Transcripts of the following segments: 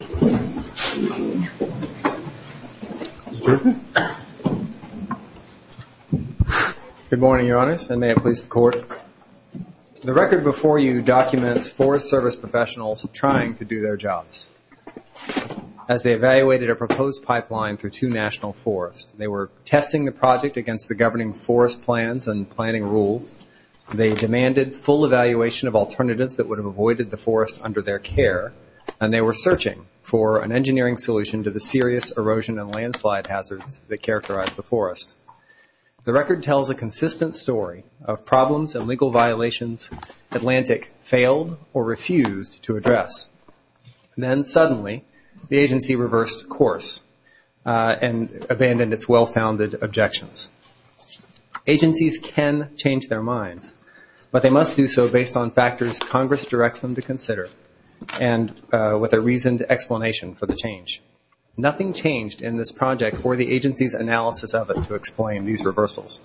Good morning, Your Honors, and may it please the Court. The record before you documents Forest Service professionals trying to do their jobs. As they evaluated a proposed pipeline through two national forests, they were testing the project against the governing forest plans and planning rule. They demanded full evaluation of alternatives that would have avoided the for an engineering solution to the serious erosion and landslide hazards that characterize the forest. The record tells a consistent story of problems and legal violations Atlantic failed or refused to address. Then suddenly, the agency reversed course and abandoned its well-founded objections. Agencies can change their minds, but they must do so based on explanation for the change. Nothing changed in this project or the agency's analysis of it to explain these reversals.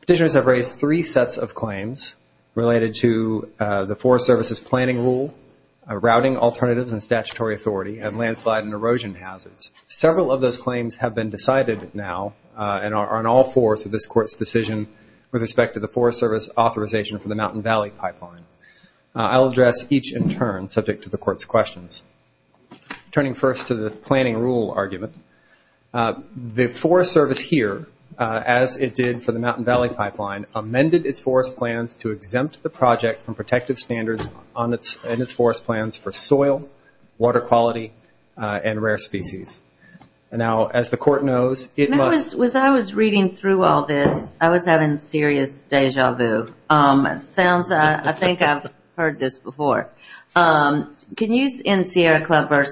Petitioners have raised three sets of claims related to the Forest Service's planning rule, routing alternatives and statutory authority, and landslide and erosion hazards. Several of those claims have been decided now and are on all fours of this Court's decision with respect to the Forest Service authorization for the Mountain Valley Pipeline. I'll address each in turn subject to the Court's questions. Turning first to the planning rule argument, the Forest Service here, as it did for the Mountain Valley Pipeline, amended its forest plans to exempt the project from protective standards in its forest plans for soil, water quality, and rare species. Now, as the Court knows, it must... When I was reading through all this, I was having serious déjà vu. I think I've heard this before. Can you, in Sierra Club v.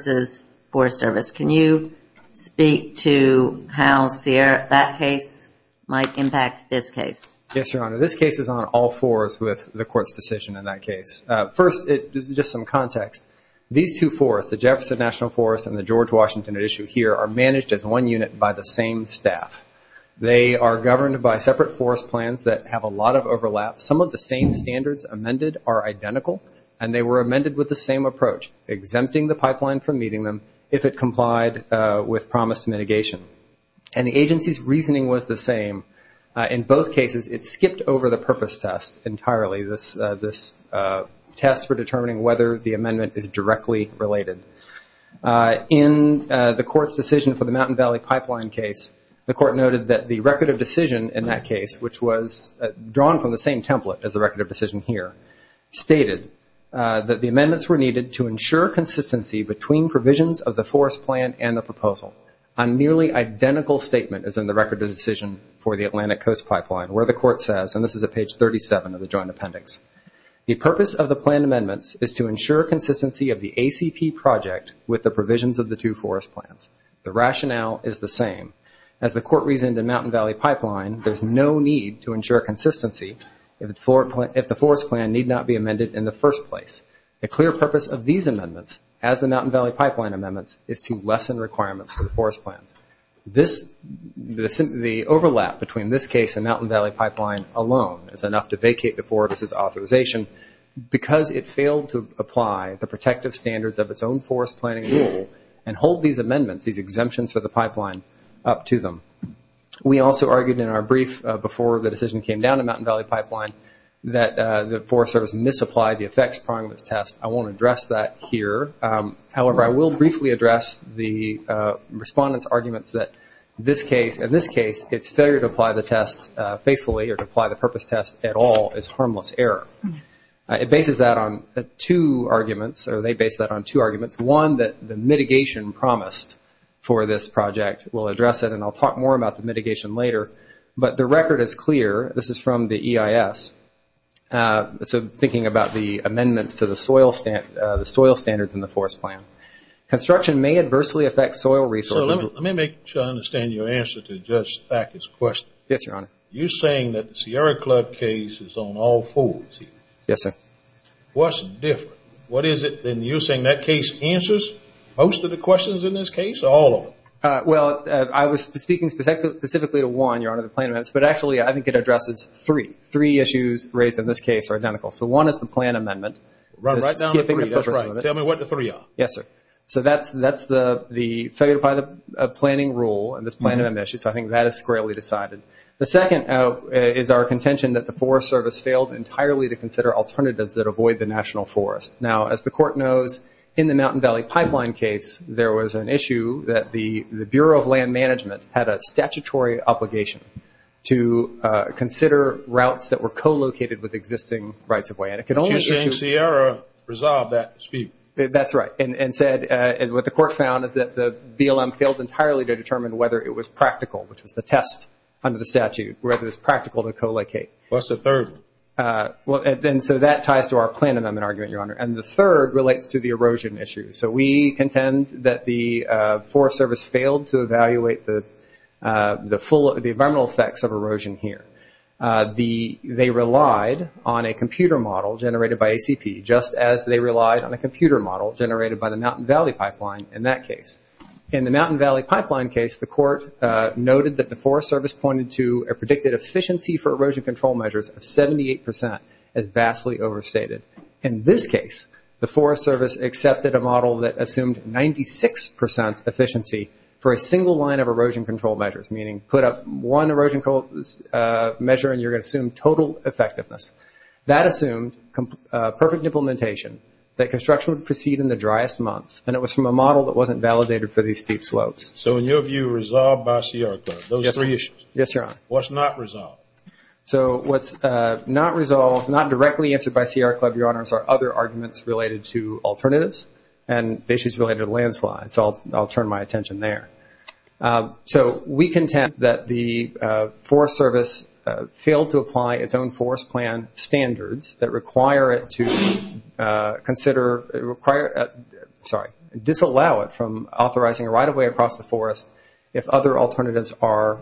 Forest Service, can you speak to how that case might impact this case? Yes, Your Honor. This case is on all fours with the Court's decision in that case. First, this is just some context. These two forests, the Jefferson National Forest and the George Mountain Unit, by the same staff. They are governed by separate forest plans that have a lot of overlap. Some of the same standards amended are identical, and they were amended with the same approach, exempting the pipeline from meeting them if it complied with promised mitigation. The agency's reasoning was the same. In both cases, it skipped over the purpose test entirely, this test for determining whether the amendment is directly related. In the Court's decision for the Mountain Valley Pipeline case, the Court noted that the record of decision in that case, which was drawn from the same template as the record of decision here, stated that the amendments were needed to ensure consistency between provisions of the forest plan and the proposal. A nearly identical statement is in the record of decision for the Atlantic Coast Pipeline, where the Court says, and this is at page 37 of the project, with the provisions of the two forest plans. The rationale is the same. As the Court reasoned in Mountain Valley Pipeline, there's no need to ensure consistency if the forest plan need not be amended in the first place. The clear purpose of these amendments, as the Mountain Valley Pipeline amendments, is to lessen requirements for the forest plans. The overlap between this case and Mountain Valley Pipeline alone is enough to vacate the four of us' authorization, because it failed to apply the protective standards of its own forest planning rule, and hold these amendments, these exemptions for the pipeline, up to them. We also argued in our brief before the decision came down to Mountain Valley Pipeline that the Forest Service misapplied the effects prior to its test. I won't address that here. However, I will briefly address the Respondent's arguments that this case, in this case, its failure to apply the test faithfully or to apply the purpose test at all, is harmless error. It bases that on two arguments, or they base that on two arguments. One, that the mitigation promised for this project will address it, and I'll talk more about the mitigation later. But the record is clear. This is from the EIS. So, thinking about the amendments to the soil standards in the forest plan. Construction may adversely affect soil resources. So, let me make sure I understand your answer to Judge Thackett's question. Yes, Your Honor. You're saying that the Sierra Club case is on all fours here. Yes, sir. What's different? What is it, then, you're saying that case answers most of the questions in this case, or all of them? Well, I was speaking specifically to one, Your Honor, the plan amendments. But actually, I think it addresses three. Three issues raised in this case are identical. So, one is the plan amendment. Run right down to three, that's right. Tell me what the three are. Yes, sir. So, that's the failure to apply the planning rule, and this plan amendment issue. So, I think that is squarely decided. The second is our contention that the Forest Service failed entirely to consider alternatives that avoid the national forest. Now, as the Court knows, in the Mountain Valley Pipeline case, there was an issue that the Bureau of Land Management had a statutory obligation to consider routes that were co-located with existing rights of way. And it could only issue You're saying Sierra resolved that dispute. That's right. And what the Court found is that the BLM failed entirely to determine whether it was practical, which was the test under the statute, whether it was practical to co-locate. What's the third? And so, that ties to our plan amendment argument, Your Honor. And the third relates to the erosion issue. So, we contend that the Forest Service failed to evaluate the environmental effects of erosion here. They relied on a computer model generated by ACP, just as they relied on a computer model generated by the Mountain Valley Pipeline in that case. In the Mountain Valley Pipeline case, the Court noted that the Forest Service pointed to a predicted efficiency for erosion control measures of 78 percent as vastly overstated. In this case, the Forest Service accepted a model that assumed 96 percent efficiency for a single line of erosion control measures, meaning put up one erosion measure and you're going to assume total effectiveness. That assumed perfect implementation, that construction would proceed in the driest months, and it was from a model that wasn't validated for these steep slopes. So, in your view, resolved by C.R. Club, those three issues. Yes, Your Honor. What's not resolved? So, what's not resolved, not directly answered by C.R. Club, Your Honors, are other arguments related to alternatives and issues related to landslides. So, I'll turn my attention there. So, we contend that the Forest Service failed to apply its own forest plan standards that require it to consider, require, sorry, disallow it from authorizing right-of-way across the forest if other alternatives are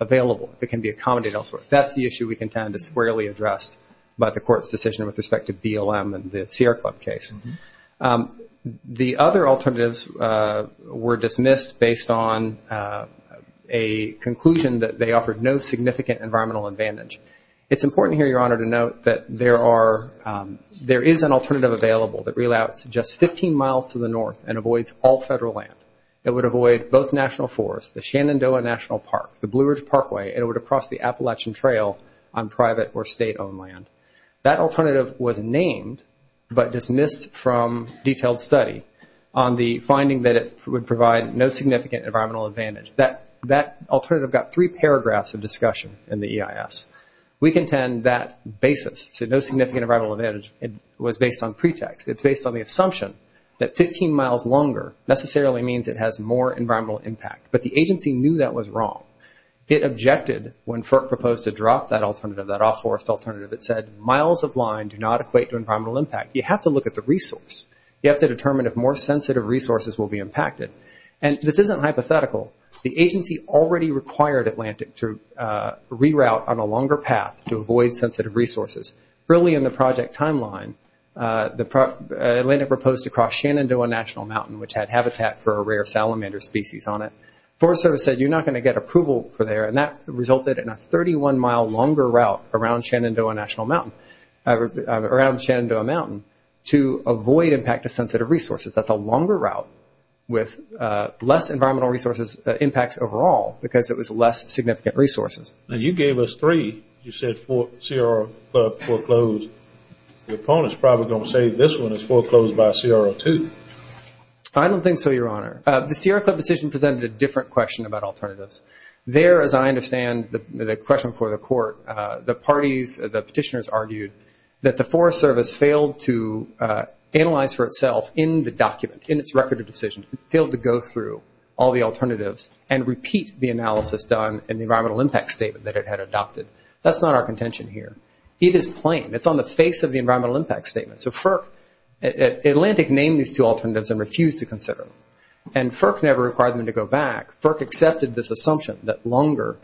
available, if it can be accommodated elsewhere. That's the issue we contend is squarely addressed by the Court's decision with respect to BLM and the C.R. Club case. The other alternatives were dismissed based on a conclusion that they offered no significant environmental advantage. It's important here, Your Honor, to note that there is an alternative available that reallocates just 15 miles to the north and avoids all federal land. It would avoid both national forests, the Shenandoah National Park, the Blue Ridge Parkway, and it would cross the Appalachian Trail on private or state-owned land. That alternative was named but dismissed from detailed study on the finding that it would provide no significant environmental advantage. That alternative got three paragraphs of discussion in the EIS. We contend that basis, no significant environmental advantage, was based on pretext. It's based on the assumption that 15 miles longer necessarily means it has more environmental impact. But the agency knew that was wrong. It objected when FERC proposed to drop that alternative, that off-forest alternative. It said miles of line do not equate to environmental impact. You have to look at the resource. You have to determine if more sensitive resources will be impacted. And this isn't hypothetical. The agency already required Atlantic to reroute on a longer path to avoid sensitive resources. Early in the project timeline, Atlantic proposed to cross Shenandoah National Mountain, which had habitat for a rare salamander species on it. Forest Service said you're not going to get approval for there, and that resulted in a 31-mile longer route around Shenandoah Mountain to avoid impact of sensitive resources. That's a longer route with less environmental resources impacts overall, because it was less significant resources. Now you gave us three. You said CRO Club foreclosed. The opponent's probably going to say this one is foreclosed by CRO2. I don't think so, Your Honor. The CRO Club decision presented a different question about alternatives. There, as I understand the question before the court, the parties, the petitioners argued that the Forest Service failed to analyze for itself in the document, in its record decision. It failed to go through all the alternatives and repeat the analysis done in the environmental impact statement that it had adopted. That's not our contention here. It is plain. It's on the face of the environmental impact statement. So FERC, Atlantic named these two alternatives and refused to consider them. And FERC never required them to go back. FERC accepted this assumption that longer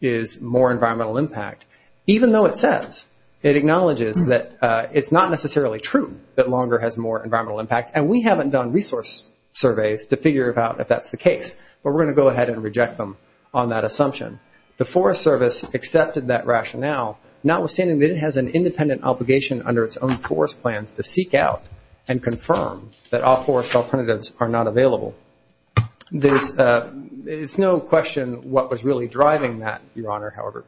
is more environmental impact, even though it says, it acknowledges that it's not necessarily true that longer has more environmental impact. And we haven't done resource surveys to figure out if that's the case. But we're going to go ahead and reject them on that assumption. The Forest Service accepted that rationale, notwithstanding that it has an independent obligation under its own forest plans to seek out and confirm that all forest alternatives are not available. It's no question what was really driving that, Your Honor, however.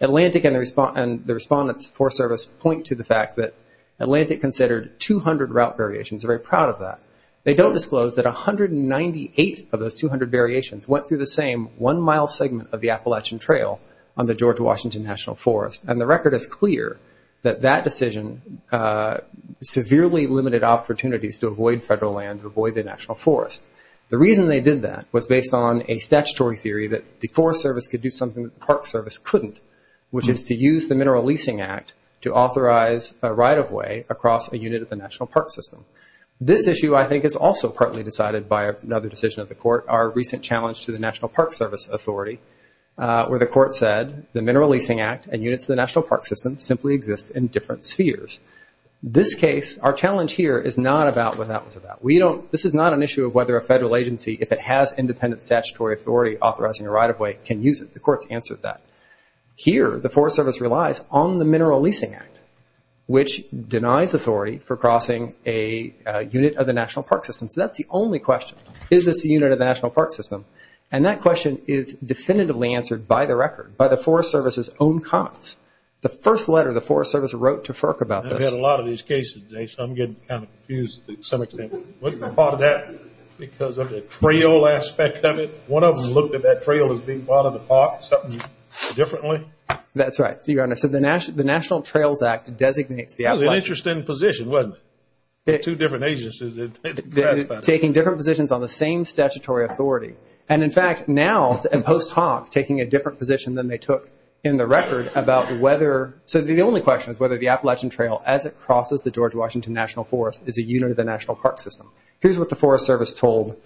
Atlantic and the Respondent's Forest Service point to the fact that Atlantic considered 200 route variations. They're very proud of that. They don't disclose that 198 of those 200 variations went through the same one-mile segment of the Appalachian Trail on the Georgia-Washington National Forest. And the record is clear that that decision severely limited opportunities to avoid federal land, to avoid the national forest. The reason they did that was based on a statutory theory that the Forest Service could do something that the Park Service couldn't, which is to use the Mineral Leasing Act to authorize a right-of-way across a unit of the national park system. This issue, I think, is also partly decided by another decision of the Court, our recent challenge to the National Park Service Authority, where the Court said the Mineral Leasing Act and units of the national park system simply exist in different spheres. This case, our challenge here, is not about what that was about. This is not an issue of whether a federal agency, if it has independent statutory authority authorizing a right-of-way, can use it. The Court's answered that. Here, the Forest Service relies on the Mineral Leasing Act, which denies authority for crossing a unit of the national park system. So that's the only question. Is this a unit of the national park system? And that question is definitively answered by the record, by the Forest Service's own comments. The first letter the Forest Service wrote to FERC about this... Because of the trail aspect of it? One of them looked at that trail as being part of the park, something differently? That's right, Your Honor. So the National Trails Act designates the Appalachian... It was an interesting position, wasn't it? Two different agencies... Taking different positions on the same statutory authority. And in fact, now, in post hoc, taking a different position than they took in the record about whether... So the only question is whether the Appalachian Trail, as it crosses the George Washington National Forest, is a unit of the national park system. Here's what the Forest Service told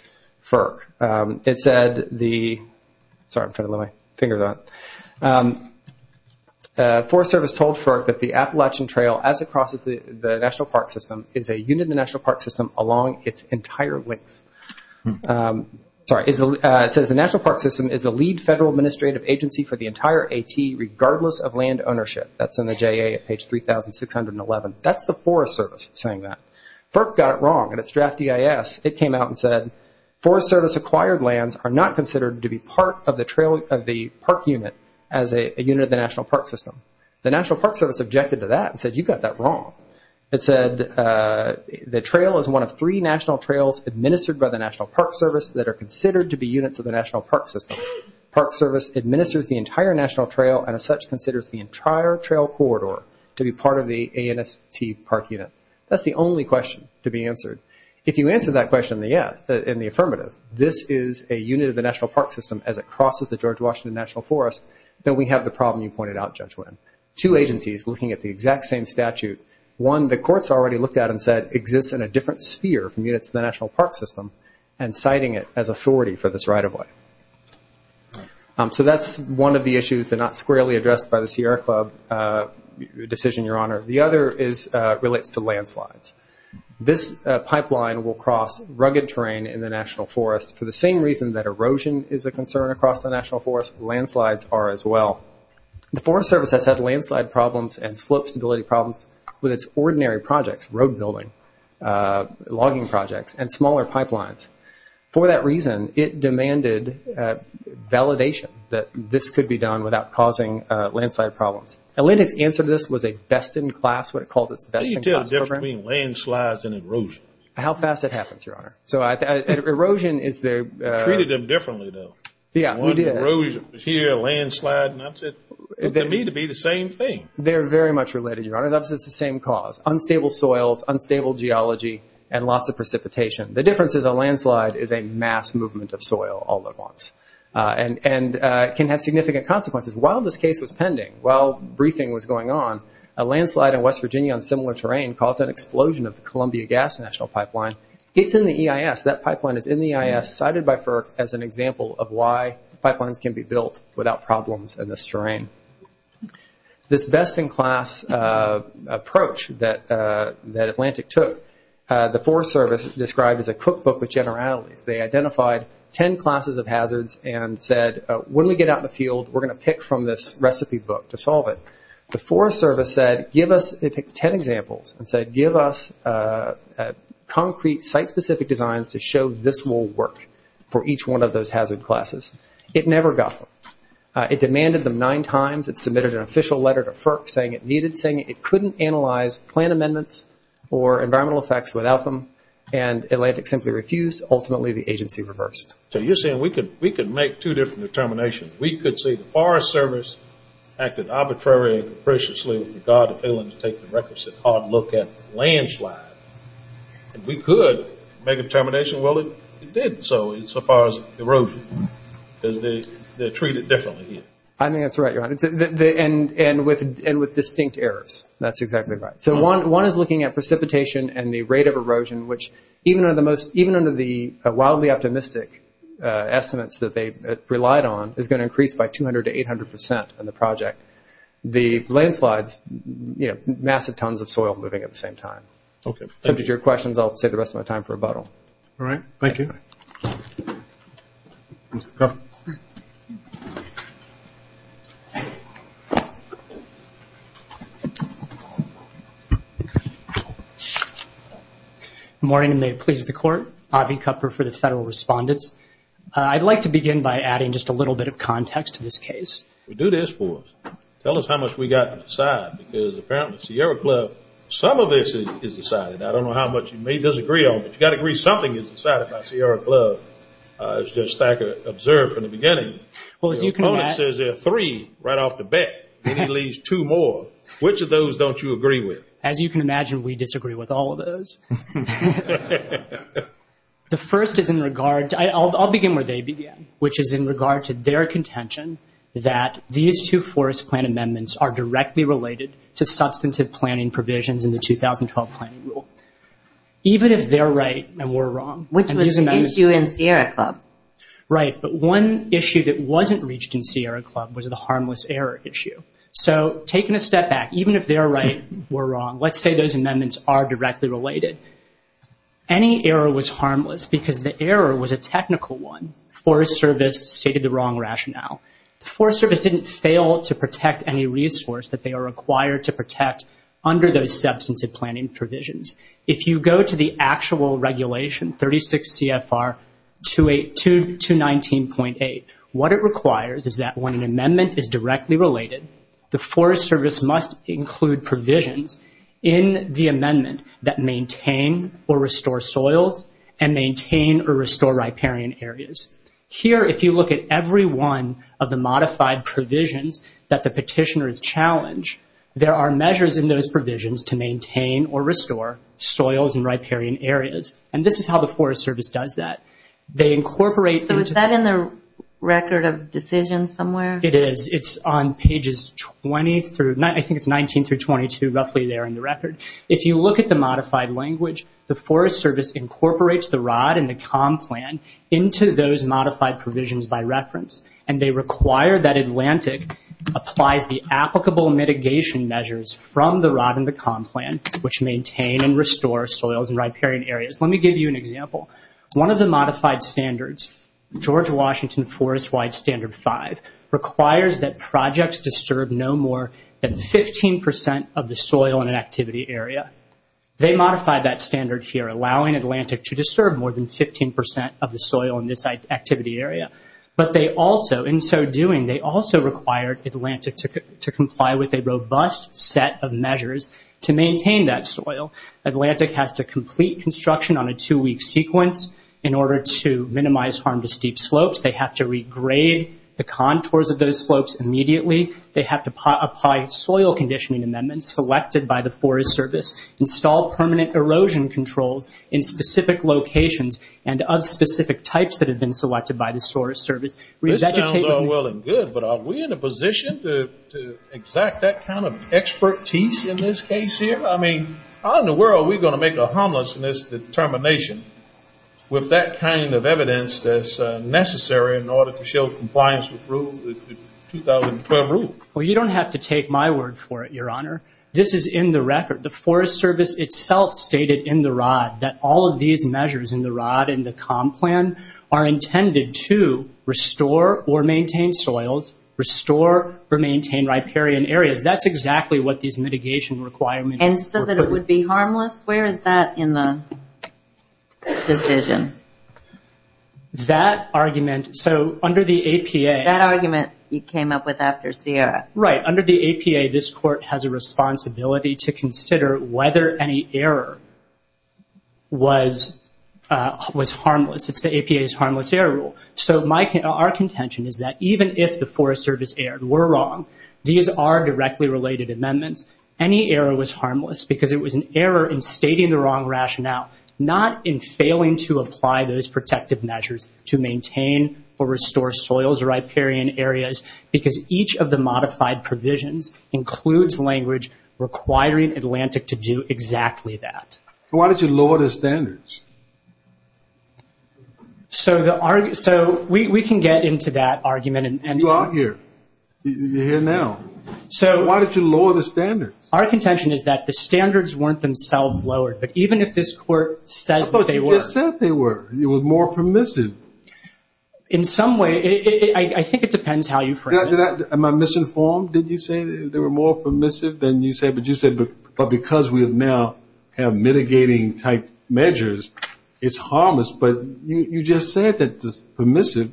FERC. It said the... Sorry, I'm trying to get my fingers on it. The Forest Service told FERC that the Appalachian Trail, as it crosses the national park system, is a unit of the national park system along its entire length. Sorry, it says the national park system is the lead federal administrative agency for the entire AT regardless of land ownership. That's in the JA at page 3611. That's the FDIS. It came out and said, Forest Service acquired lands are not considered to be part of the park unit as a unit of the national park system. The National Park Service objected to that and said, you got that wrong. It said the trail is one of three national trails administered by the National Park Service that are considered to be units of the national park system. Park Service administers the entire national trail and as such considers the entire trail corridor to be part of the ANST park unit. That's the only question to be answered. If you answer that question in the affirmative, this is a unit of the national park system as it crosses the George Washington National Forest, then we have the problem you pointed out, Judge Winn. Two agencies looking at the exact same statute. One the courts already looked at and said exists in a different sphere from units of the national park system and citing it as authority for this right of way. That's one of the issues that are not squarely addressed by the Sierra Club decision, Your Honor. The other relates to landslides. This pipeline will cross rugged terrain in the national forest for the same reason that erosion is a concern across the national forest, landslides are as well. The Forest Service has had landslide problems and slope stability problems with its ordinary projects, road building, logging projects, and smaller pipelines. For that reason, it demanded validation that this could be done without causing landslide problems. Atlantic's answer to this was a best-in-class, what it calls its best-in-class program. Can you tell the difference between landslides and erosion? How fast it happens, Your Honor. Erosion is the... Treated them differently, though. Yeah, we did. One erosion was here, a landslide, and I said, for me to be the same thing. They're very much related, Your Honor. That's the same cause. Unstable soils, unstable geology, and lots of precipitation. The difference is a landslide is a mass movement of soil all at once and can have significant consequences. While this case was pending, while briefing was going on, a landslide in West Virginia on similar terrain caused an explosion of the Columbia Gas National Pipeline. It's in the EIS. That pipeline is in the EIS, cited by FERC as an example of why pipelines can be built without problems in this terrain. This best-in-class approach that Atlantic took, the Forest Service described as a cookbook with generalities. They identified ten classes of hazards and said, when we get out in the field, we're going to pick from this recipe book to solve it. The Forest Service said, give us... They picked ten examples and said, give us concrete, site-specific designs to show this will work for each one of those hazard classes. It never got them. It demanded them nine times. It submitted an official letter to FERC saying it needed, saying it couldn't analyze plan amendments or environmental effects without them, and Atlantic simply refused. Ultimately, the agency reversed. So you're saying we could make two different determinations. We could say the Forest Service acted arbitrary and capriciously with regard to failing to take the requisite hard look at the landslide, and we could make a determination, well, it did so, insofar as erosion, because they're treated differently here. I think that's right, Your Honor, and with distinct errors. That's exactly right. So one is looking at precipitation and the rate of erosion, which even under the wildly optimistic estimates that they relied on, is going to increase by 200 to 800 percent in the project. The landslides, you know, massive tons of soil moving at the same time. Okay, thank you. If that answers your questions, I'll save the rest of my time for rebuttal. All right, thank you. Good morning, and may it please the Court. Avi Kupfer for the Federal Respondents. I'd like to begin by adding just a little bit of context to this case. Do this for us. Tell us how much we got to decide, because apparently Sierra Club, some of this is decided. I don't know how much you may disagree on, but you've got to agree something is decided by Sierra Club, as Judge Thacker observed from the beginning. Well, as you can imagine... Your opponent says there are three right off the bat, and he leaves two more. Which of those don't you agree with? As you can imagine, we disagree with all of those. The first is in regard... I'll begin where they began, which is in regard to their contention that these two forest plan amendments are directly related to substantive planning provisions in the 2012 planning rule. Even if they're right and we're wrong... Which was an issue in Sierra Club. Right, but one issue that wasn't reached in Sierra Club was the harmless error issue. So, taking a step back, even if they're right, we're wrong, let's say those amendments are directly related. Any error was harmless, because the error was a technical one. Forest Service stated the wrong rationale. Forest Service didn't fail to protect any resource that they are required to protect under those substantive planning provisions. If you go to the actual regulation, 36 CFR 219.8, what it requires is that when an amendment is directly related, the Forest Service must include provisions in the amendment that maintain or restore soils, and maintain or restore riparian areas. Here, if you look at every one of the modified provisions that the petitioner has challenged, there are measures in those provisions to maintain or restore soils and riparian areas. And this is how the Forest Service does that. They incorporate... So, is that in the record of decisions somewhere? It is. It's on pages 20 through, I think it's 19 through 22, roughly there in the record. If you look at the modified language, the Forest Service incorporates the ROD and the COM plan into those modified provisions by reference. And they require that Atlantic applies the applicable mitigation measures from the ROD and the COM plan, which maintain and restore soils and riparian areas. Let me give you an example. One of the modified standards, George Washington Forestwide Standard 5, requires that projects disturb no more than 15% of the soil in an activity area. They modified that standard here, allowing Atlantic to disturb more than 15% of the soil in this activity area. But they also, in so doing, they also required Atlantic to comply with a robust set of measures to maintain that soil. Atlantic has to complete construction on a two-week sequence in order to minimize harm to steep slopes. They have to regrade the contours of those slopes immediately. They have to apply soil conditioning amendments selected by the Forest Service, install permanent erosion controls in specific locations and of specific types that have been selected by the Forest Service. This sounds all well and good, but are we in a position to exact that kind of expertise in this case here? I mean, how in the world are we going to make a harmless determination with that kind of evidence that's necessary in order to show compliance with the 2012 rule? Well, you don't have to take my word for it, Your Honor. This is in the record. The Forest Service itself stated in the ROD that all of these measures in the ROD and the COM plan are intended to restore or maintain soils, restore or maintain riparian areas. That's exactly what these mitigation requirements were for. And so that it would be harmless? Where is that in the decision? That argument, so under the APA... That argument you came up with after Sierra. Right. Under the APA, this Court has a responsibility to consider whether any error was harmless. It's the APA's harmless error rule. So our contention is that even if the Forest Service errors were wrong, these are directly related amendments, any error was harmless because it was an error in stating the wrong rationale, not in failing to apply those protective measures to maintain or restore soils, riparian areas, because each of the modified provisions includes language requiring Atlantic to do exactly that. Why did you lower the standards? So we can get into that argument. You are here. You're here now. So why did you lower the standards? Our contention is that the standards weren't themselves lowered, but even if this Court says that they were... But you just said they were. It was more permissive. In some way, I think it depends how you frame it. Am I misinformed? Did you say they were more permissive than you said? But you said because we now have mitigating type measures, it's harmless, but you just said that the permissive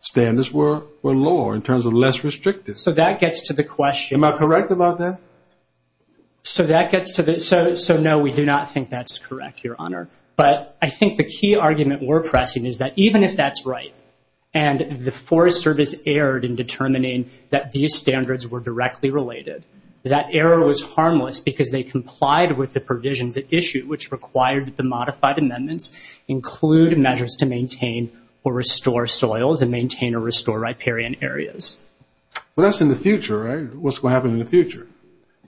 standards were lower in terms of less restrictive. So that gets to the question... Am I correct about that? So that gets to the... So no, we do not think that's correct, Your Honor. But I think the key argument we're pressing is that even if that's right and the Forest Service erred in determining that these standards were directly related, that error was harmless because they complied with the provisions issued, which required the modified amendments include measures to maintain or restore soils and maintain or restore riparian areas. Well, that's in the future, right? What's going to happen in the future?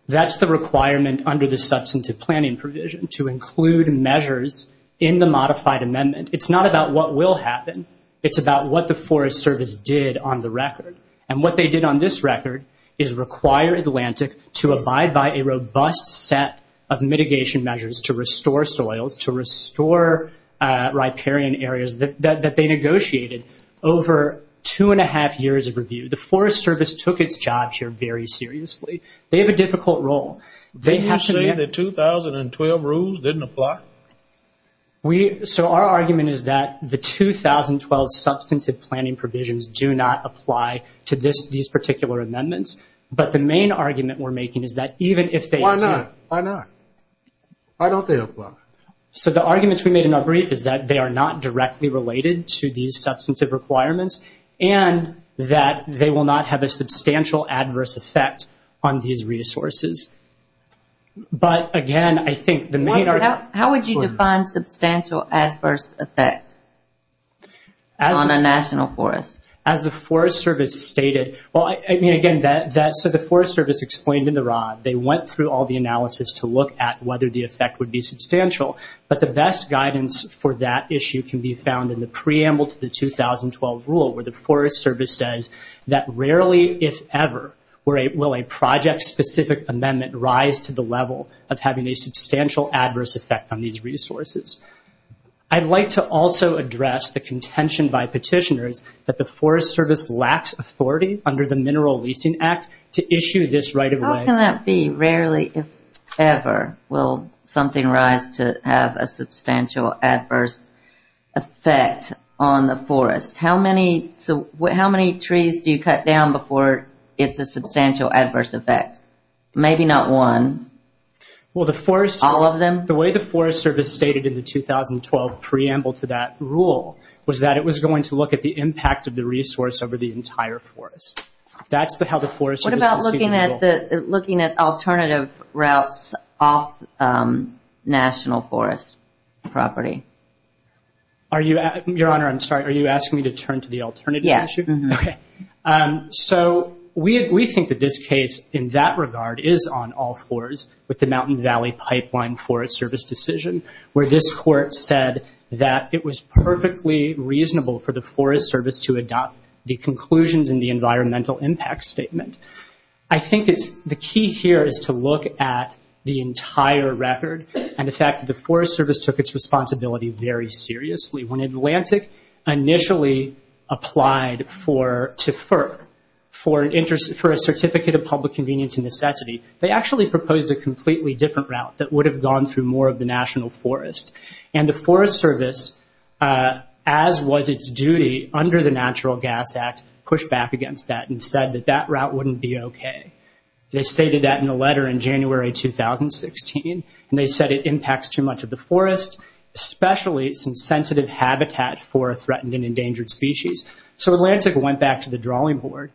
That's the requirement under the substantive planning provision to include measures in the modified amendment. It's not about what will happen. It's about what the Forest Service did on the record. And what they did on this record is require Atlantic to abide by a robust set of mitigation measures to restore soils, to restore riparian areas that they negotiated. Over two and a half years of review, the Forest Service took its job here very seriously. They have a difficult role. Didn't you say the 2012 rules didn't apply? So our argument is that the 2012 substantive planning provisions do not apply to these particular amendments, but the main argument we're making is that even if they... Why not? Why don't they apply? So the arguments we made in our brief is that they are not directly related to these substantive requirements and that they will not have a substantial adverse effect on these resources. But again, I think the main... How would you define substantial adverse effect on a national forest? As the Forest Service stated... I mean, again, so the Forest Service explained in the rod. They went through all the analysis to look at whether the effect would be substantial. But the best guidance for that issue can be found in the preamble to the 2012 rule where the Forest Service says that rarely, if ever, will a project-specific amendment rise to the level of having a substantial adverse effect on these resources. I'd like to also address the contention by petitioners that the Forest Service lacks authority under the Mineral Leasing Act to issue this right of way. How can that be? Rarely, if ever, will something rise to have a substantial adverse effect on the forest? How many trees do you cut down before it's a substantial adverse effect? Maybe not one. Well, the Forest Service... All of them? The way the Forest Service stated in the 2012 preamble to that rule was that it was going to look at the impact of the resource over the entire forest. That's how the Forest Service... What about looking at alternative routes off national forest property? Your Honor, I'm sorry. Are you asking me to turn to the alternative issue? Yes. Okay. So we think that this case, in that regard, is on all fours with the Mountain Valley Pipeline Forest Service decision, where this court said that it was perfectly reasonable for the Forest Service to adopt the conclusions in the environmental impact statement. I think the key here is to look at the entire record and the fact that the Forest Service took its responsibility very seriously. When Atlantic initially applied to FER for a certificate of public convenience and necessity, they actually proposed a completely different route that would have gone through more of the national forest. And the Forest Service, as was its duty under the Natural Gas Act, pushed back against that and said that that route wouldn't be okay. They stated that in a letter in January 2016, and they said it impacts too much of the forest, especially since sensitive habitat for a threatened and endangered species. So Atlantic went back to the drawing board.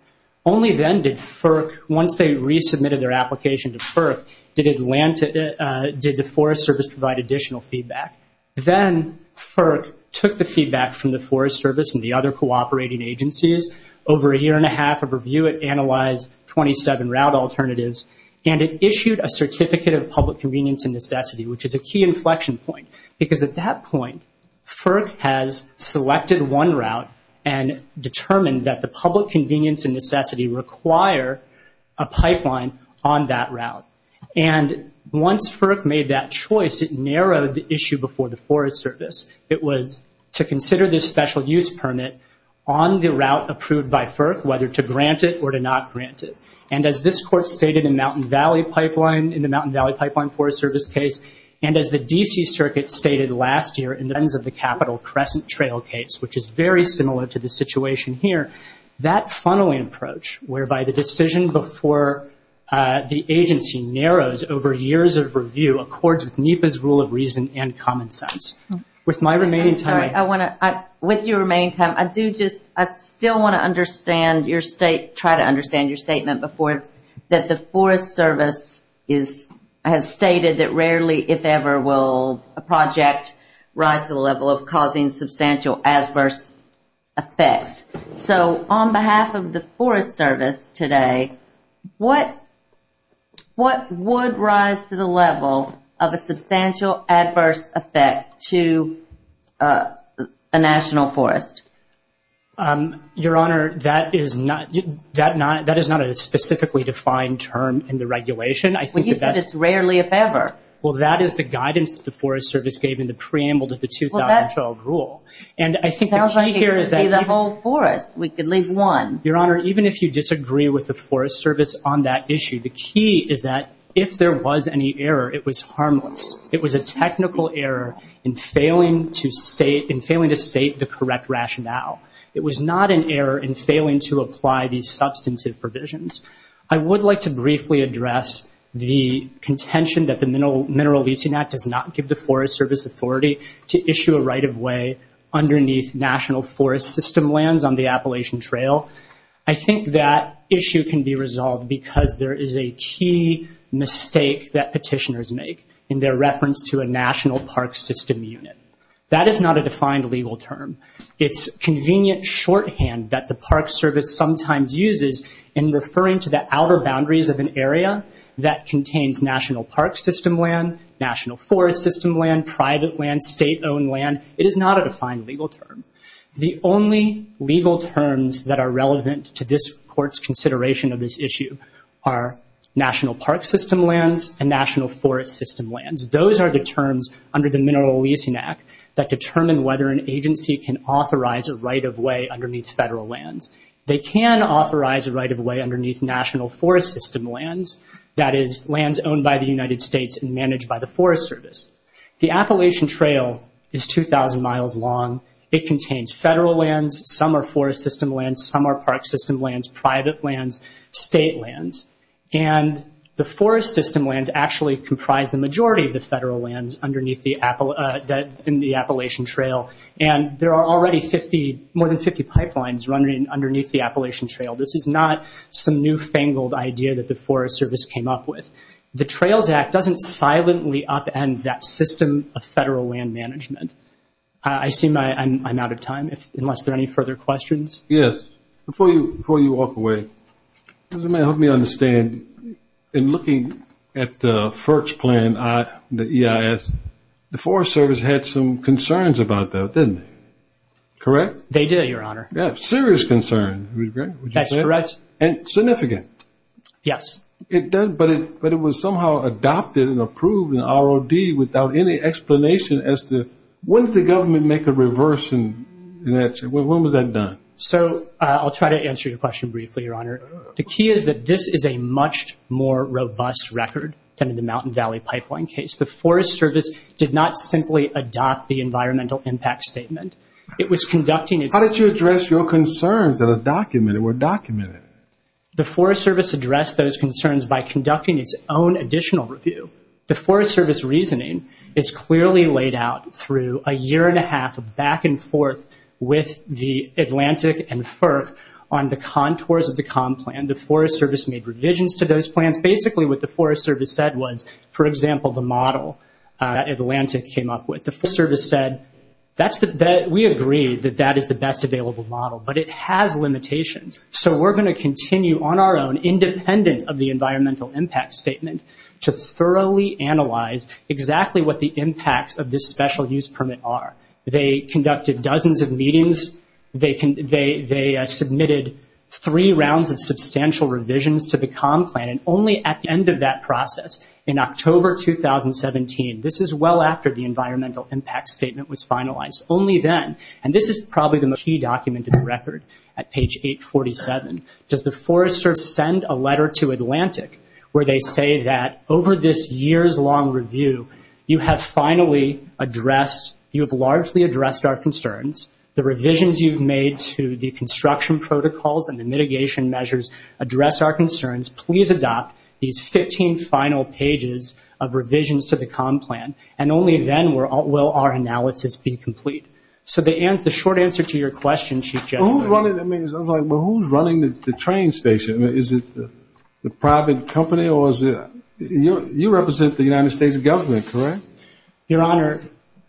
Only then did FERC, once they resubmitted their application to FERC, did the Forest Service provide additional feedback. Then FERC took the feedback from the Forest Service and the other cooperating agencies. Over a year and a half of review, it analyzed 27 route alternatives, and it issued a certificate of public convenience and necessity, which is a key inflection point. Because at that point, FERC has selected one route and determined that the public convenience and necessity require a pipeline on that route. And once FERC made that choice, it narrowed the issue before the Forest Service. It was to consider this special use permit on the route approved by FERC, whether to grant it or to not grant it. And as this Court stated in the Mountain Valley Pipeline Forest Service case, and as the D.C. Circuit stated last year in the Capital Crescent Trail case, which is very similar to the situation here, that funneling approach, whereby the decision before the agency narrows over years of review, accords with NEPA's rule of reason and common sense. With my remaining time, I do just, I still want to understand your state, try to understand your statement before, that the Forest Service has stated that rarely, if ever, will a project rise to the level of causing substantial adverse effects. So on behalf of the Forest Service today, what would rise to the level of a substantial adverse effect to a national forest? Your Honor, that is not a specifically defined term in the regulation. Well, you said it's rarely, if ever. Well, that is the guidance that the Forest Service gave in the preamble to the 2012 rule. And I think the key here is that- It sounds like it could be the whole forest. We could leave one. Your Honor, even if you disagree with the Forest Service on that issue, the key is that if there was any error, it was harmless. It was a technical error in failing to state the correct rationale. It was not an error in failing to apply these substantive provisions. I would like to briefly address the contention that the Mineral Leasing Act does not give the Forest Service authority to issue a right-of-way underneath national forest system lands on the Appalachian Trail. I think that issue can be resolved because there is a key mistake that petitioners make in their reference to a national park system unit. That is not a defined legal term. It's convenient shorthand that the Park Service sometimes uses in referring to the outer boundaries of an area that contains national park system land, national forest system land, private land, state-owned land. It is not a defined legal term. The only legal terms that are relevant to this Court's consideration of this issue are national park system lands and national forest system lands. Those are the terms under the Mineral Leasing Act that determine whether an agency can authorize a right-of-way underneath federal lands. They can authorize a right-of-way underneath national forest system lands, that is, lands owned by the United States and managed by the Forest Service. The Appalachian Trail is 2,000 miles long. It contains federal lands, some are forest system lands, some are park system lands, private lands, state lands. The forest system lands actually comprise the majority of the federal lands in the Appalachian Trail, and there are already more than 50 pipelines running underneath the Appalachian Trail. This is not some newfangled idea that the Forest Service came up with. The Trails Act doesn't silently upend that system of federal land management. I seem I'm out of time, unless there are any further questions. Yes. Before you walk away, if you may help me understand, in looking at the FERC's plan, the EIS, the Forest Service had some concerns about that, didn't they? Correct? They did, Your Honor. Serious concerns, would you say? That's correct. And significant? Yes. But it was somehow adopted and approved in ROD without any explanation as to wouldn't the government make a reversion in that? When was that done? So I'll try to answer your question briefly, Your Honor. The key is that this is a much more robust record than in the Mountain Valley Pipeline case. The Forest Service did not simply adopt the environmental impact statement. It was conducting its How did you address your concerns that were documented? The Forest Service addressed those concerns by conducting its own additional review. The Forest Service reasoning is clearly laid out through a year and a half of back and forth with the Atlantic and FERC on the contours of the COMM plan. The Forest Service made revisions to those plans. Basically, what the Forest Service said was, for example, the model that Atlantic came up with. The Forest Service said, we agree that that is the best available model, but it has limitations. So we're going to continue on our own, independent of the environmental impact statement, to thoroughly analyze exactly what the impacts of this special use permit are. They conducted dozens of meetings. They submitted three rounds of substantial revisions to the COMM plan, and only at the end of that process, in October 2017, this is well after the environmental impact statement was finalized. Only then, and this is probably the most key document in the record at page 847, does the Forest Service send a letter to Atlantic where they say that, over this year's long review, you have finally addressed, you have largely addressed our concerns. The revisions you've made to the construction protocols and the mitigation measures address our concerns. Please adopt these 15 final pages of revisions to the COMM plan, and only then will our analysis be complete. So the short answer to your question, Chief Justice. Well, who's running the train station? Is it the private company or is it? You represent the United States government, correct? Your Honor,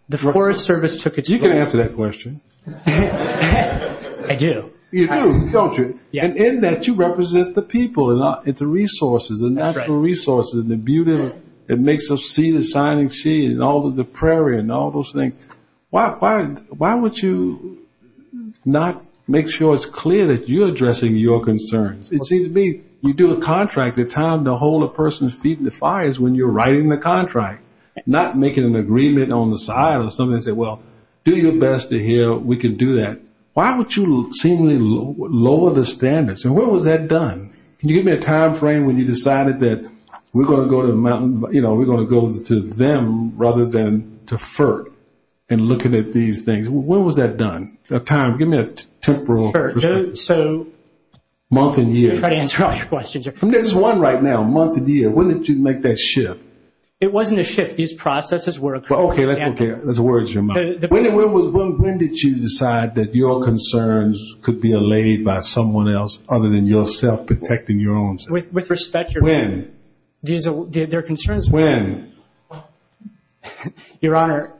the Forest Service took its place. You can answer that question. I do. You do, don't you? And in that, you represent the people and the resources, the natural resources and the beauty that makes us see the signing sheet and all of the prairie and all those things. Why would you not make sure it's clear that you're addressing your concerns? It seems to me you do a contract, the time to hold a person's feet in the fire is when you're writing the contract, not making an agreement on the side or something and say, well, do your best to hear we can do that. Why would you seemingly lower the standards? And when was that done? Can you give me a time frame when you decided that we're going to go to them rather than to FERC in looking at these things? When was that done? Give me a temporal perspective. Sure. So. Month and year. I'm trying to answer all your questions. There's one right now, month and year. When did you make that shift? It wasn't a shift. These processes were occurring. Okay. That's okay. Those words are in your mind. When did you decide that your concerns could be allayed by someone else other than yourself protecting your own? With respect, Your Honor. When? Their concerns were. When? Your Honor,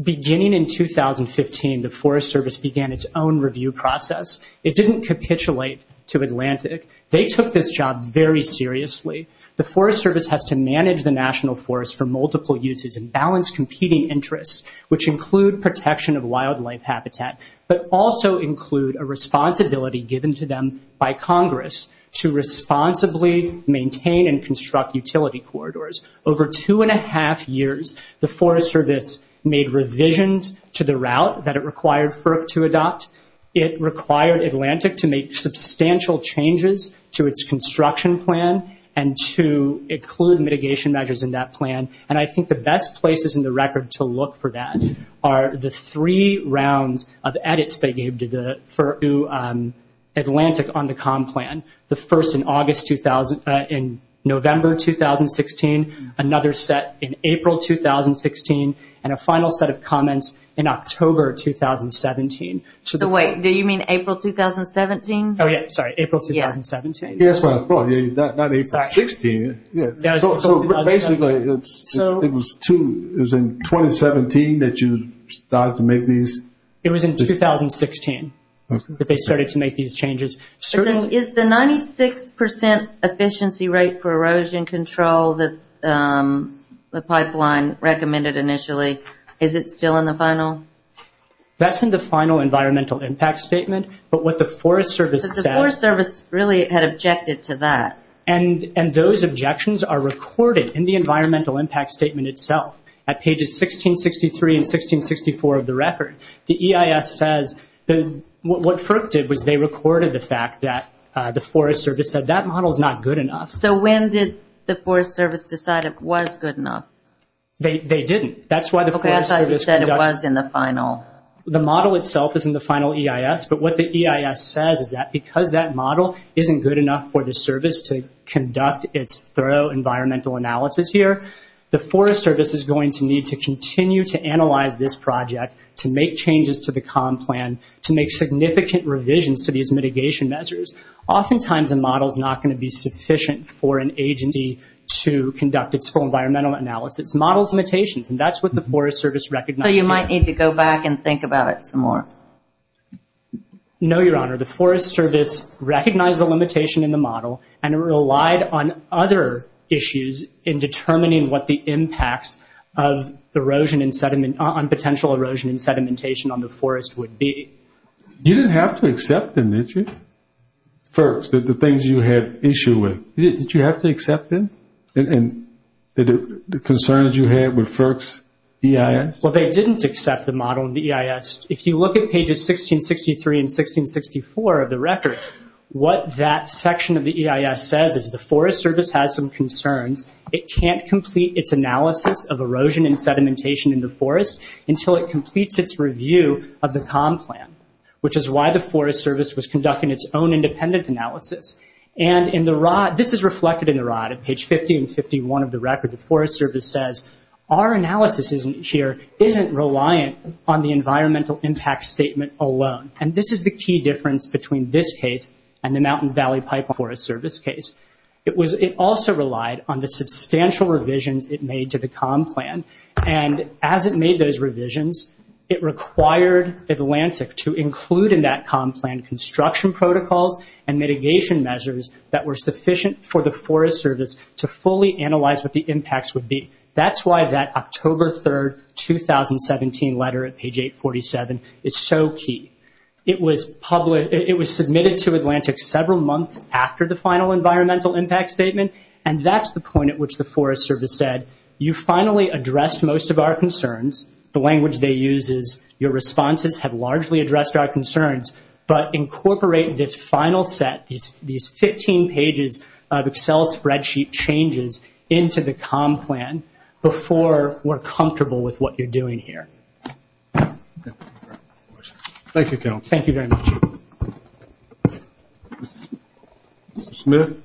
beginning in 2015, the Forest Service began its own review process. It didn't capitulate to Atlantic. They took this job very seriously. The Forest Service has to manage the National Forest for multiple uses and balance competing interests, which include protection of wildlife habitat, but also include a responsibility given to them by Congress to responsibly maintain and construct utility corridors. Over two-and-a-half years, the Forest Service made revisions to the route that it required FERC to adopt. It required Atlantic to make substantial changes to its construction plan and to include mitigation measures in that plan. And I think the best places in the record to look for that are the three rounds of edits they gave to Atlantic on the COM plan, the first in November 2016, another set in April 2016, and a final set of comments in October 2017. Wait, do you mean April 2017? Oh, yeah, sorry, April 2017. That's what I thought, not April 16. So basically it was in 2017 that you started to make these? It was in 2016 that they started to make these changes. Is the 96% efficiency rate for erosion control that the pipeline recommended initially, is it still in the final? That's in the final environmental impact statement, but what the Forest Service said The Forest Service really had objected to that. And those objections are recorded in the environmental impact statement itself. At pages 1663 and 1664 of the record, the EIS says what FERC did was they rejected the fact that the Forest Service said that model is not good enough. So when did the Forest Service decide it was good enough? They didn't. Okay, I thought you said it was in the final. The model itself is in the final EIS, but what the EIS says is that because that model isn't good enough for the service to conduct its thorough environmental analysis here, the Forest Service is going to need to continue to analyze this project, to make changes to the COM plan, to make significant revisions to these mitigation measures. Oftentimes a model is not going to be sufficient for an agency to conduct its thorough environmental analysis. Models limitations, and that's what the Forest Service recognized here. So you might need to go back and think about it some more. No, Your Honor. The Forest Service recognized the limitation in the model and relied on other issues in determining what the impacts of potential erosion and sedimentation on the forest would be. You didn't have to accept them, did you, FERCS, the things you had issue with? Did you have to accept them, the concerns you had with FERCS EIS? Well, they didn't accept the model in the EIS. If you look at pages 1663 and 1664 of the record, what that section of the EIS says is the Forest Service has some concerns. It can't complete its analysis of erosion and sedimentation in the forest until it is done, which is why the Forest Service was conducting its own independent analysis. And this is reflected in the rod at page 50 and 51 of the record. The Forest Service says our analysis here isn't reliant on the environmental impact statement alone. And this is the key difference between this case and the Mountain Valley Pipeline Forest Service case. It also relied on the substantial revisions it made to the COM plan. And as it made those revisions, it required Atlantic to include in that COM plan construction protocols and mitigation measures that were sufficient for the Forest Service to fully analyze what the impacts would be. That's why that October 3, 2017 letter at page 847 is so key. It was submitted to Atlantic several months after the final environmental impact statement, and that's the point at which the Forest Service said, you finally addressed most of our concerns. The language they use is your responses have largely addressed our concerns, but incorporate this final set, these 15 pages of Excel spreadsheet changes, into the COM plan before we're comfortable with what you're doing here. Thank you, Kevin. Thank you very much. Mr. Smith.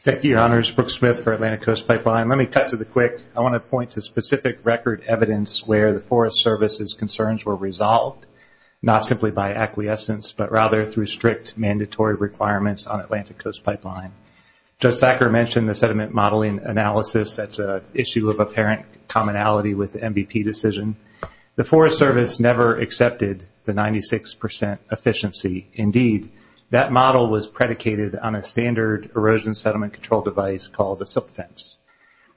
Thank you, Honors. Brooke Smith for Atlantic Coast Pipeline. Let me cut to the quick. I want to point to specific record evidence where the Forest Service's concerns were resolved, not simply by acquiescence, but rather through strict mandatory requirements on Atlantic Coast Pipeline. Judge Sacker mentioned the sediment modeling analysis. That's an issue of apparent commonality with the MVP decision. The Forest Service never accepted the 96% efficiency. Indeed, that model was predicated on a standard erosion sediment control device called a silt fence.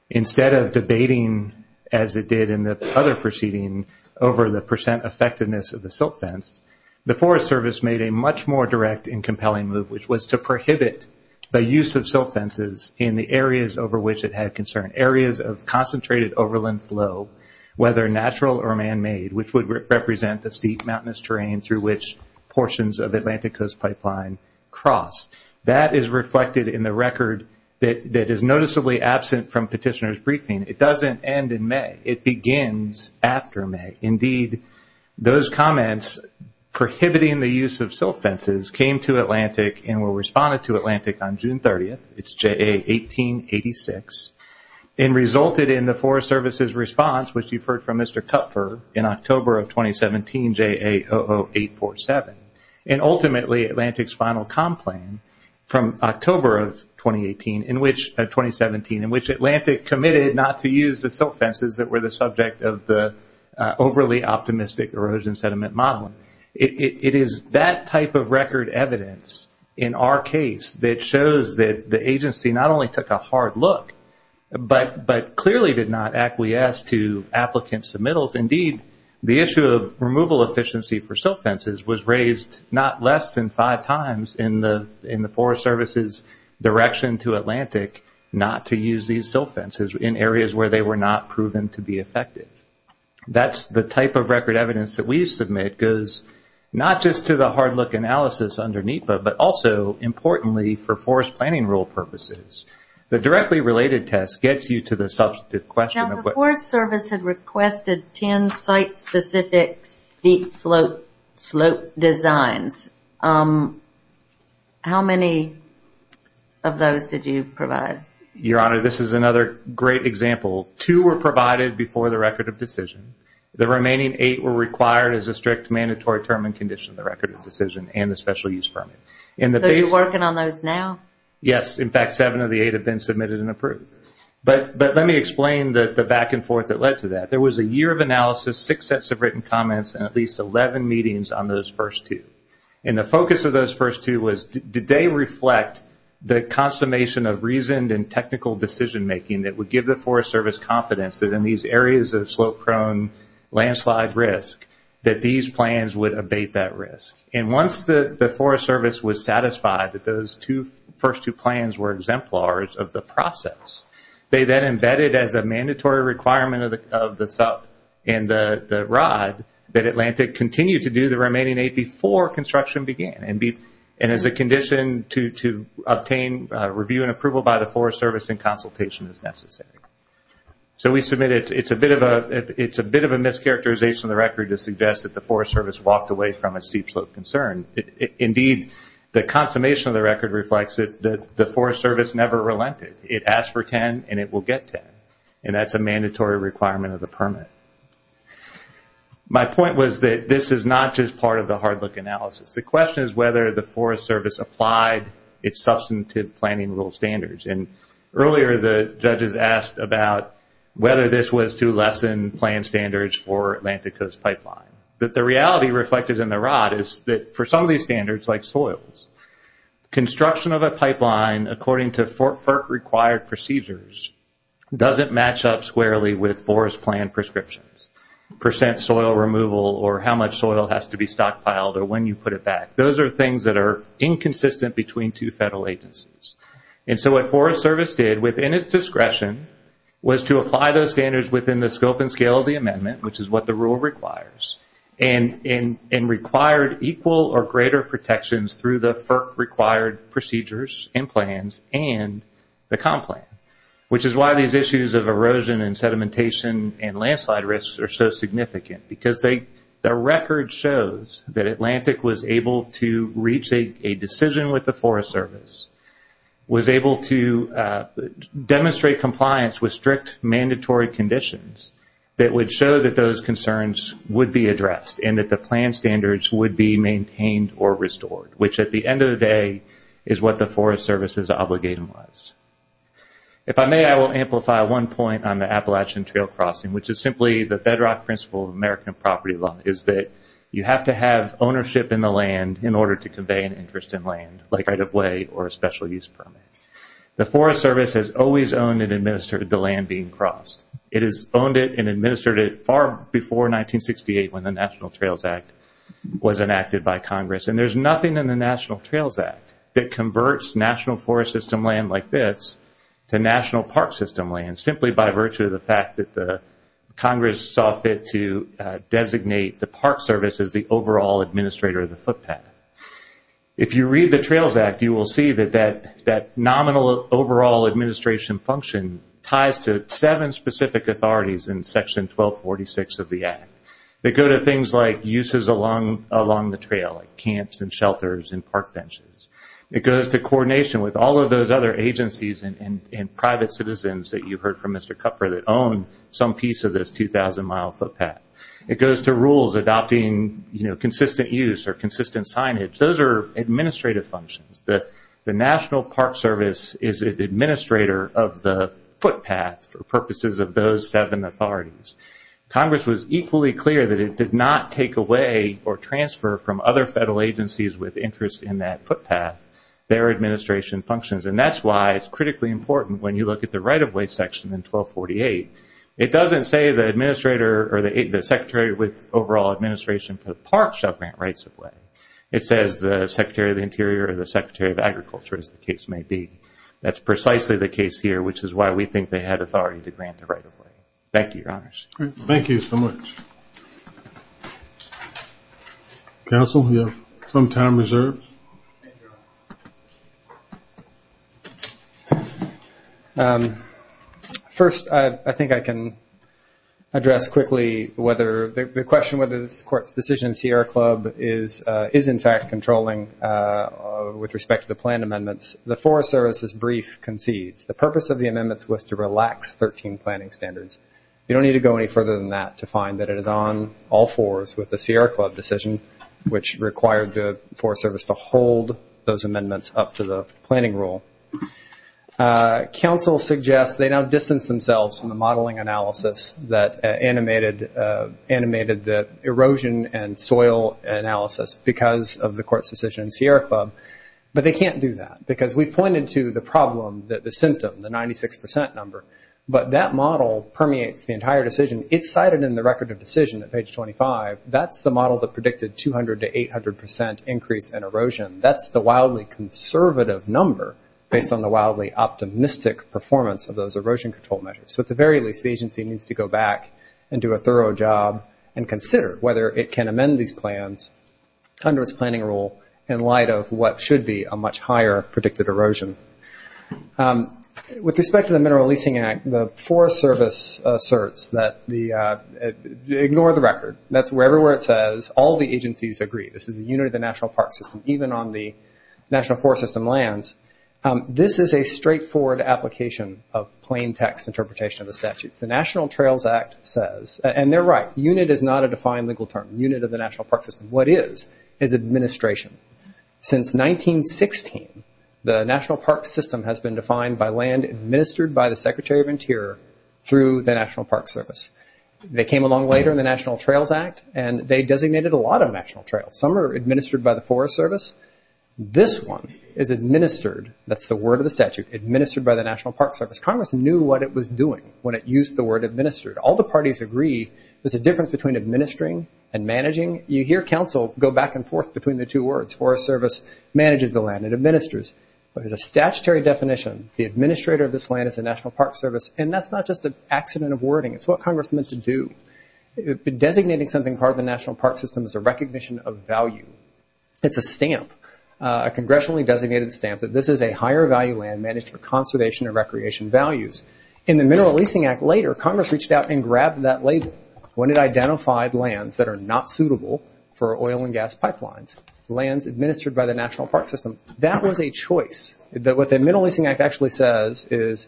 Instead of debating, as it did in the other proceeding, over the percent effectiveness of the silt fence, the Forest Service made a much more direct and compelling move, which was to prohibit the use of silt fences in the areas over which it had concern, areas of concentrated overland flow, whether natural or manmade, which would represent the steep mountainous terrain through which portions of Atlantic Coast Pipeline cross. That is reflected in the record that is noticeably absent from petitioner's briefing. It doesn't end in May. It begins after May. Indeed, those comments prohibiting the use of silt fences came to Atlantic and were responded to Atlantic on June 30th, it's JA 1886, and resulted in the Forest Service's response, which you've heard from Mr. Kupfer in October of 2017, JA 00847, and ultimately Atlantic's final comp plan from October of 2017, in which Atlantic committed not to use the silt fences that were the subject of the overly optimistic erosion sediment modeling. It is that type of record evidence in our case that shows that the agency not only took a hard look but clearly did not acquiesce to applicant submittals. Indeed, the issue of removal efficiency for silt fences was raised not less than five times in the Forest Service's direction to Atlantic not to use these silt fences in areas where they were not proven to be effective. That's the type of record evidence that we submit goes not just to the hard look analysis under NEPA but also, importantly, for forest planning rule purposes. The directly related test gets you to the substantive question of what- Now the Forest Service had requested ten site-specific steep slope designs. How many of those did you provide? Your Honor, this is another great example. Two were provided before the record of decision. The remaining eight were required as a strict mandatory term and condition for the record of decision and the special use permit. So you're working on those now? Yes. In fact, seven of the eight have been submitted and approved. Let me explain the back and forth that led to that. There was a year of analysis, six sets of written comments, and at least 11 meetings on those first two. The focus of those first two was did they reflect the consummation of reasoned and technical decision making that would give the Forest Service confidence that in these areas of slope-prone landslide risk that these plans would abate that risk. Once the Forest Service was satisfied that those first two plans were exemplars of the process, they then embedded as a mandatory requirement of the SUP and the ROD that Atlantic continue to do the remaining eight before construction began and as a condition to obtain review and approval by the Forest Service and consultation as necessary. So we submitted it. It's a bit of a mischaracterization of the record to suggest that the Forest Service walked away from a steep slope concern. Indeed, the consummation of the record reflects that the Forest Service never relented. It asked for 10 and it will get 10, and that's a mandatory requirement of the permit. My point was that this is not just part of the hard look analysis. The question is whether the Forest Service applied its substantive planning rule standards. Earlier the judges asked about whether this was to lessen plan standards for Atlantic Coast Pipeline. The reality reflected in the ROD is that for some of these standards, like soils, construction of a pipeline according to FERC-required procedures doesn't match up squarely with forest plan prescriptions, percent soil removal or how much soil has to be stockpiled or when you put it back. Those are things that are inconsistent between two federal agencies. So what Forest Service did within its discretion was to apply those standards within the scope and scale of the amendment, which is what the rule requires, and required equal or greater protections through the FERC-required procedures and plans and the comp plan, which is why these issues of erosion and sedimentation and landslide risks are so significant because the record shows that Atlantic was able to reach a decision with the Forest Service, was able to demonstrate compliance with strict mandatory conditions that would show that those concerns would be addressed and that the plan standards would be maintained or restored, which at the end of the day is what the Forest Service's obligation was. If I may, I will amplify one point on the Appalachian Trail Crossing, which is simply the bedrock principle of American property law, is that you have to have ownership in the land in order to convey an interest in land, like right-of-way or a special use permit. The Forest Service has always owned and administered the land being crossed. It has owned it and administered it far before 1968 when the National Trails Act was enacted by Congress, and there's nothing in the National Trails Act that converts National Forest System land like this to National Park System land simply by virtue of the fact that Congress saw fit to designate the Park Service as the overall administrator of the footpath. If you read the Trails Act, you will see that that nominal overall administration function ties to seven specific authorities in Section 1246 of the Act. They go to things like uses along the trail, like camps and shelters and park benches. It goes to coordination with all of those other agencies and private citizens that you heard from Mr. Kupfer that own some piece of this 2,000-mile footpath. It goes to rules adopting consistent use or consistent signage. Those are administrative functions. The National Park Service is an administrator of the footpath for purposes of those seven authorities. Congress was equally clear that it did not take away or transfer from other federal agencies with interest in that footpath their administration functions, and that's why it's critically important when you look at the right-of-way section in 1248, it doesn't say the administrator or the secretary with overall administration for the park shall grant rights of way. It says the Secretary of the Interior or the Secretary of Agriculture, as the case may be. That's precisely the case here, which is why we think they had authority to grant the right of way. Thank you, Your Honors. Thank you so much. Thank you. Counsel, you have some time reserved. First, I think I can address quickly whether the question whether this court's decision in Sierra Club is in fact controlling with respect to the planned amendments. The Forest Service's brief concedes the purpose of the amendments was to relax 13 planning standards. You don't need to go any further than that to find that it is on all fours with the Sierra Club decision, which required the Forest Service to hold those amendments up to the planning rule. Counsel suggests they now distance themselves from the modeling analysis that animated the erosion and soil analysis because of the court's decision in Sierra Club, but they can't do that because we've pointed to the problem, the symptom, the 96% number, but that model permeates the entire decision. It's cited in the record of decision at page 25. That's the model that predicted 200 to 800% increase in erosion. That's the wildly conservative number based on the wildly optimistic performance of those erosion control measures. So at the very least, the agency needs to go back and do a thorough job and consider whether it can amend these plans under its planning rule in light of what should be a much higher predicted erosion. With respect to the Mineral Leasing Act, the Forest Service asserts that, ignore the record, that's everywhere it says all the agencies agree. This is a unit of the national park system, even on the national forest system lands. This is a straightforward application of plain text interpretation of the statutes. The National Trails Act says, and they're right, unit is not a defined legal term, unit of the national park system. What is, is administration. Since 1916, the national park system has been defined by land administered by the Secretary of Interior through the National Park Service. They came along later in the National Trails Act, and they designated a lot of national trails. Some are administered by the Forest Service. This one is administered, that's the word of the statute, administered by the National Park Service. Congress knew what it was doing when it used the word administered. All the parties agree there's a difference between administering and managing. You hear counsel go back and forth between the two words. Forest Service manages the land and administers. But as a statutory definition, the administrator of this land is the National Park Service, and that's not just an accident of wording. It's what Congress meant to do. Designating something part of the national park system is a recognition of value. It's a stamp, a congressionally designated stamp, that this is a higher value land managed for conservation and recreation values. In the Mineral Leasing Act later, Congress reached out and grabbed that label. When it identified lands that are not suitable for oil and gas pipelines, lands administered by the national park system, that was a choice. What the Mineral Leasing Act actually says is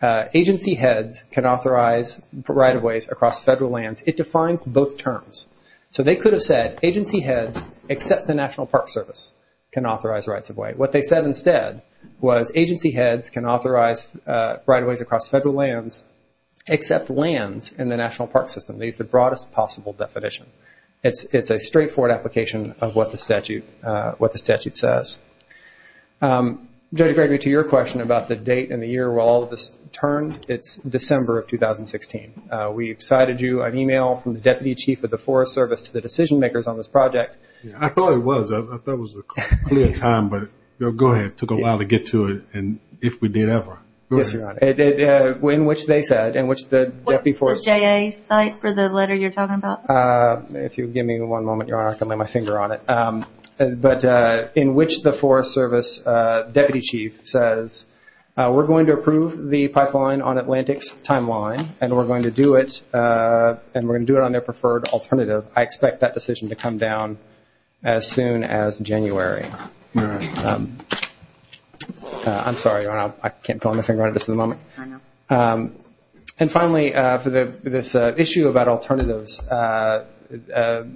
agency heads can authorize right-of-ways across federal lands. It defines both terms. They could have said agency heads except the National Park Service can authorize rights-of-way. What they said instead was agency heads can authorize right-of-ways across federal lands except lands in the national park system. They used the broadest possible definition. It's a straightforward application of what the statute says. Judge Gregory, to your question about the date and the year where all of this turned, it's December of 2016. We cited you an email from the Deputy Chief of the Forest Service to the decision makers on this project. I thought it was. I thought it was a clear time, but go ahead. It took a while to get to it, and if we did, ever. Yes, Your Honor. In which they said, in which the Deputy Forest Service. Was it the JA site for the letter you're talking about? If you'll give me one moment, Your Honor, I can lay my finger on it. But in which the Forest Service Deputy Chief says, we're going to approve the pipeline on Atlantic's timeline, and we're going to do it on their preferred alternative. I expect that decision to come down as soon as January. All right. I'm sorry, Your Honor. I can't put my finger on this at the moment. I know. And finally, for this issue about alternatives, the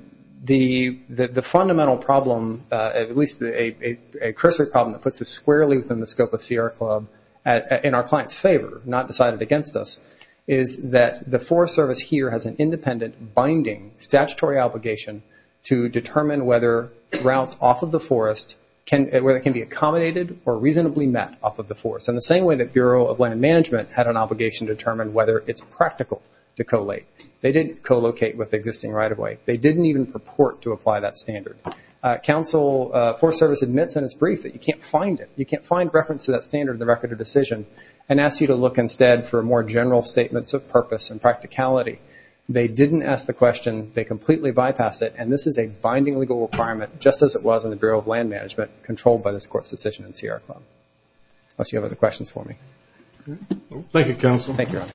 fundamental problem, at least a cursory problem that puts us squarely within the scope of Sierra Club, in our client's favor, not decided against us, is that the Forest Service here has an independent binding statutory obligation to determine whether routes off of the forest can be accommodated or reasonably met off of the forest, in the same way that Bureau of Land Management had an obligation to determine whether it's practical to collate. They didn't co-locate with existing right-of-way. They didn't even purport to apply that standard. Forest Service admits in its brief that you can't find it. You can't find reference to that standard in the record of decision, and asks you to look instead for more general statements of purpose and practicality. They didn't ask the question. They completely bypassed it. And this is a binding legal requirement, just as it was in the Bureau of Land Management, controlled by this Court's decision in Sierra Club. Unless you have other questions for me. Thank you, Counsel. Thank you, Your Honor.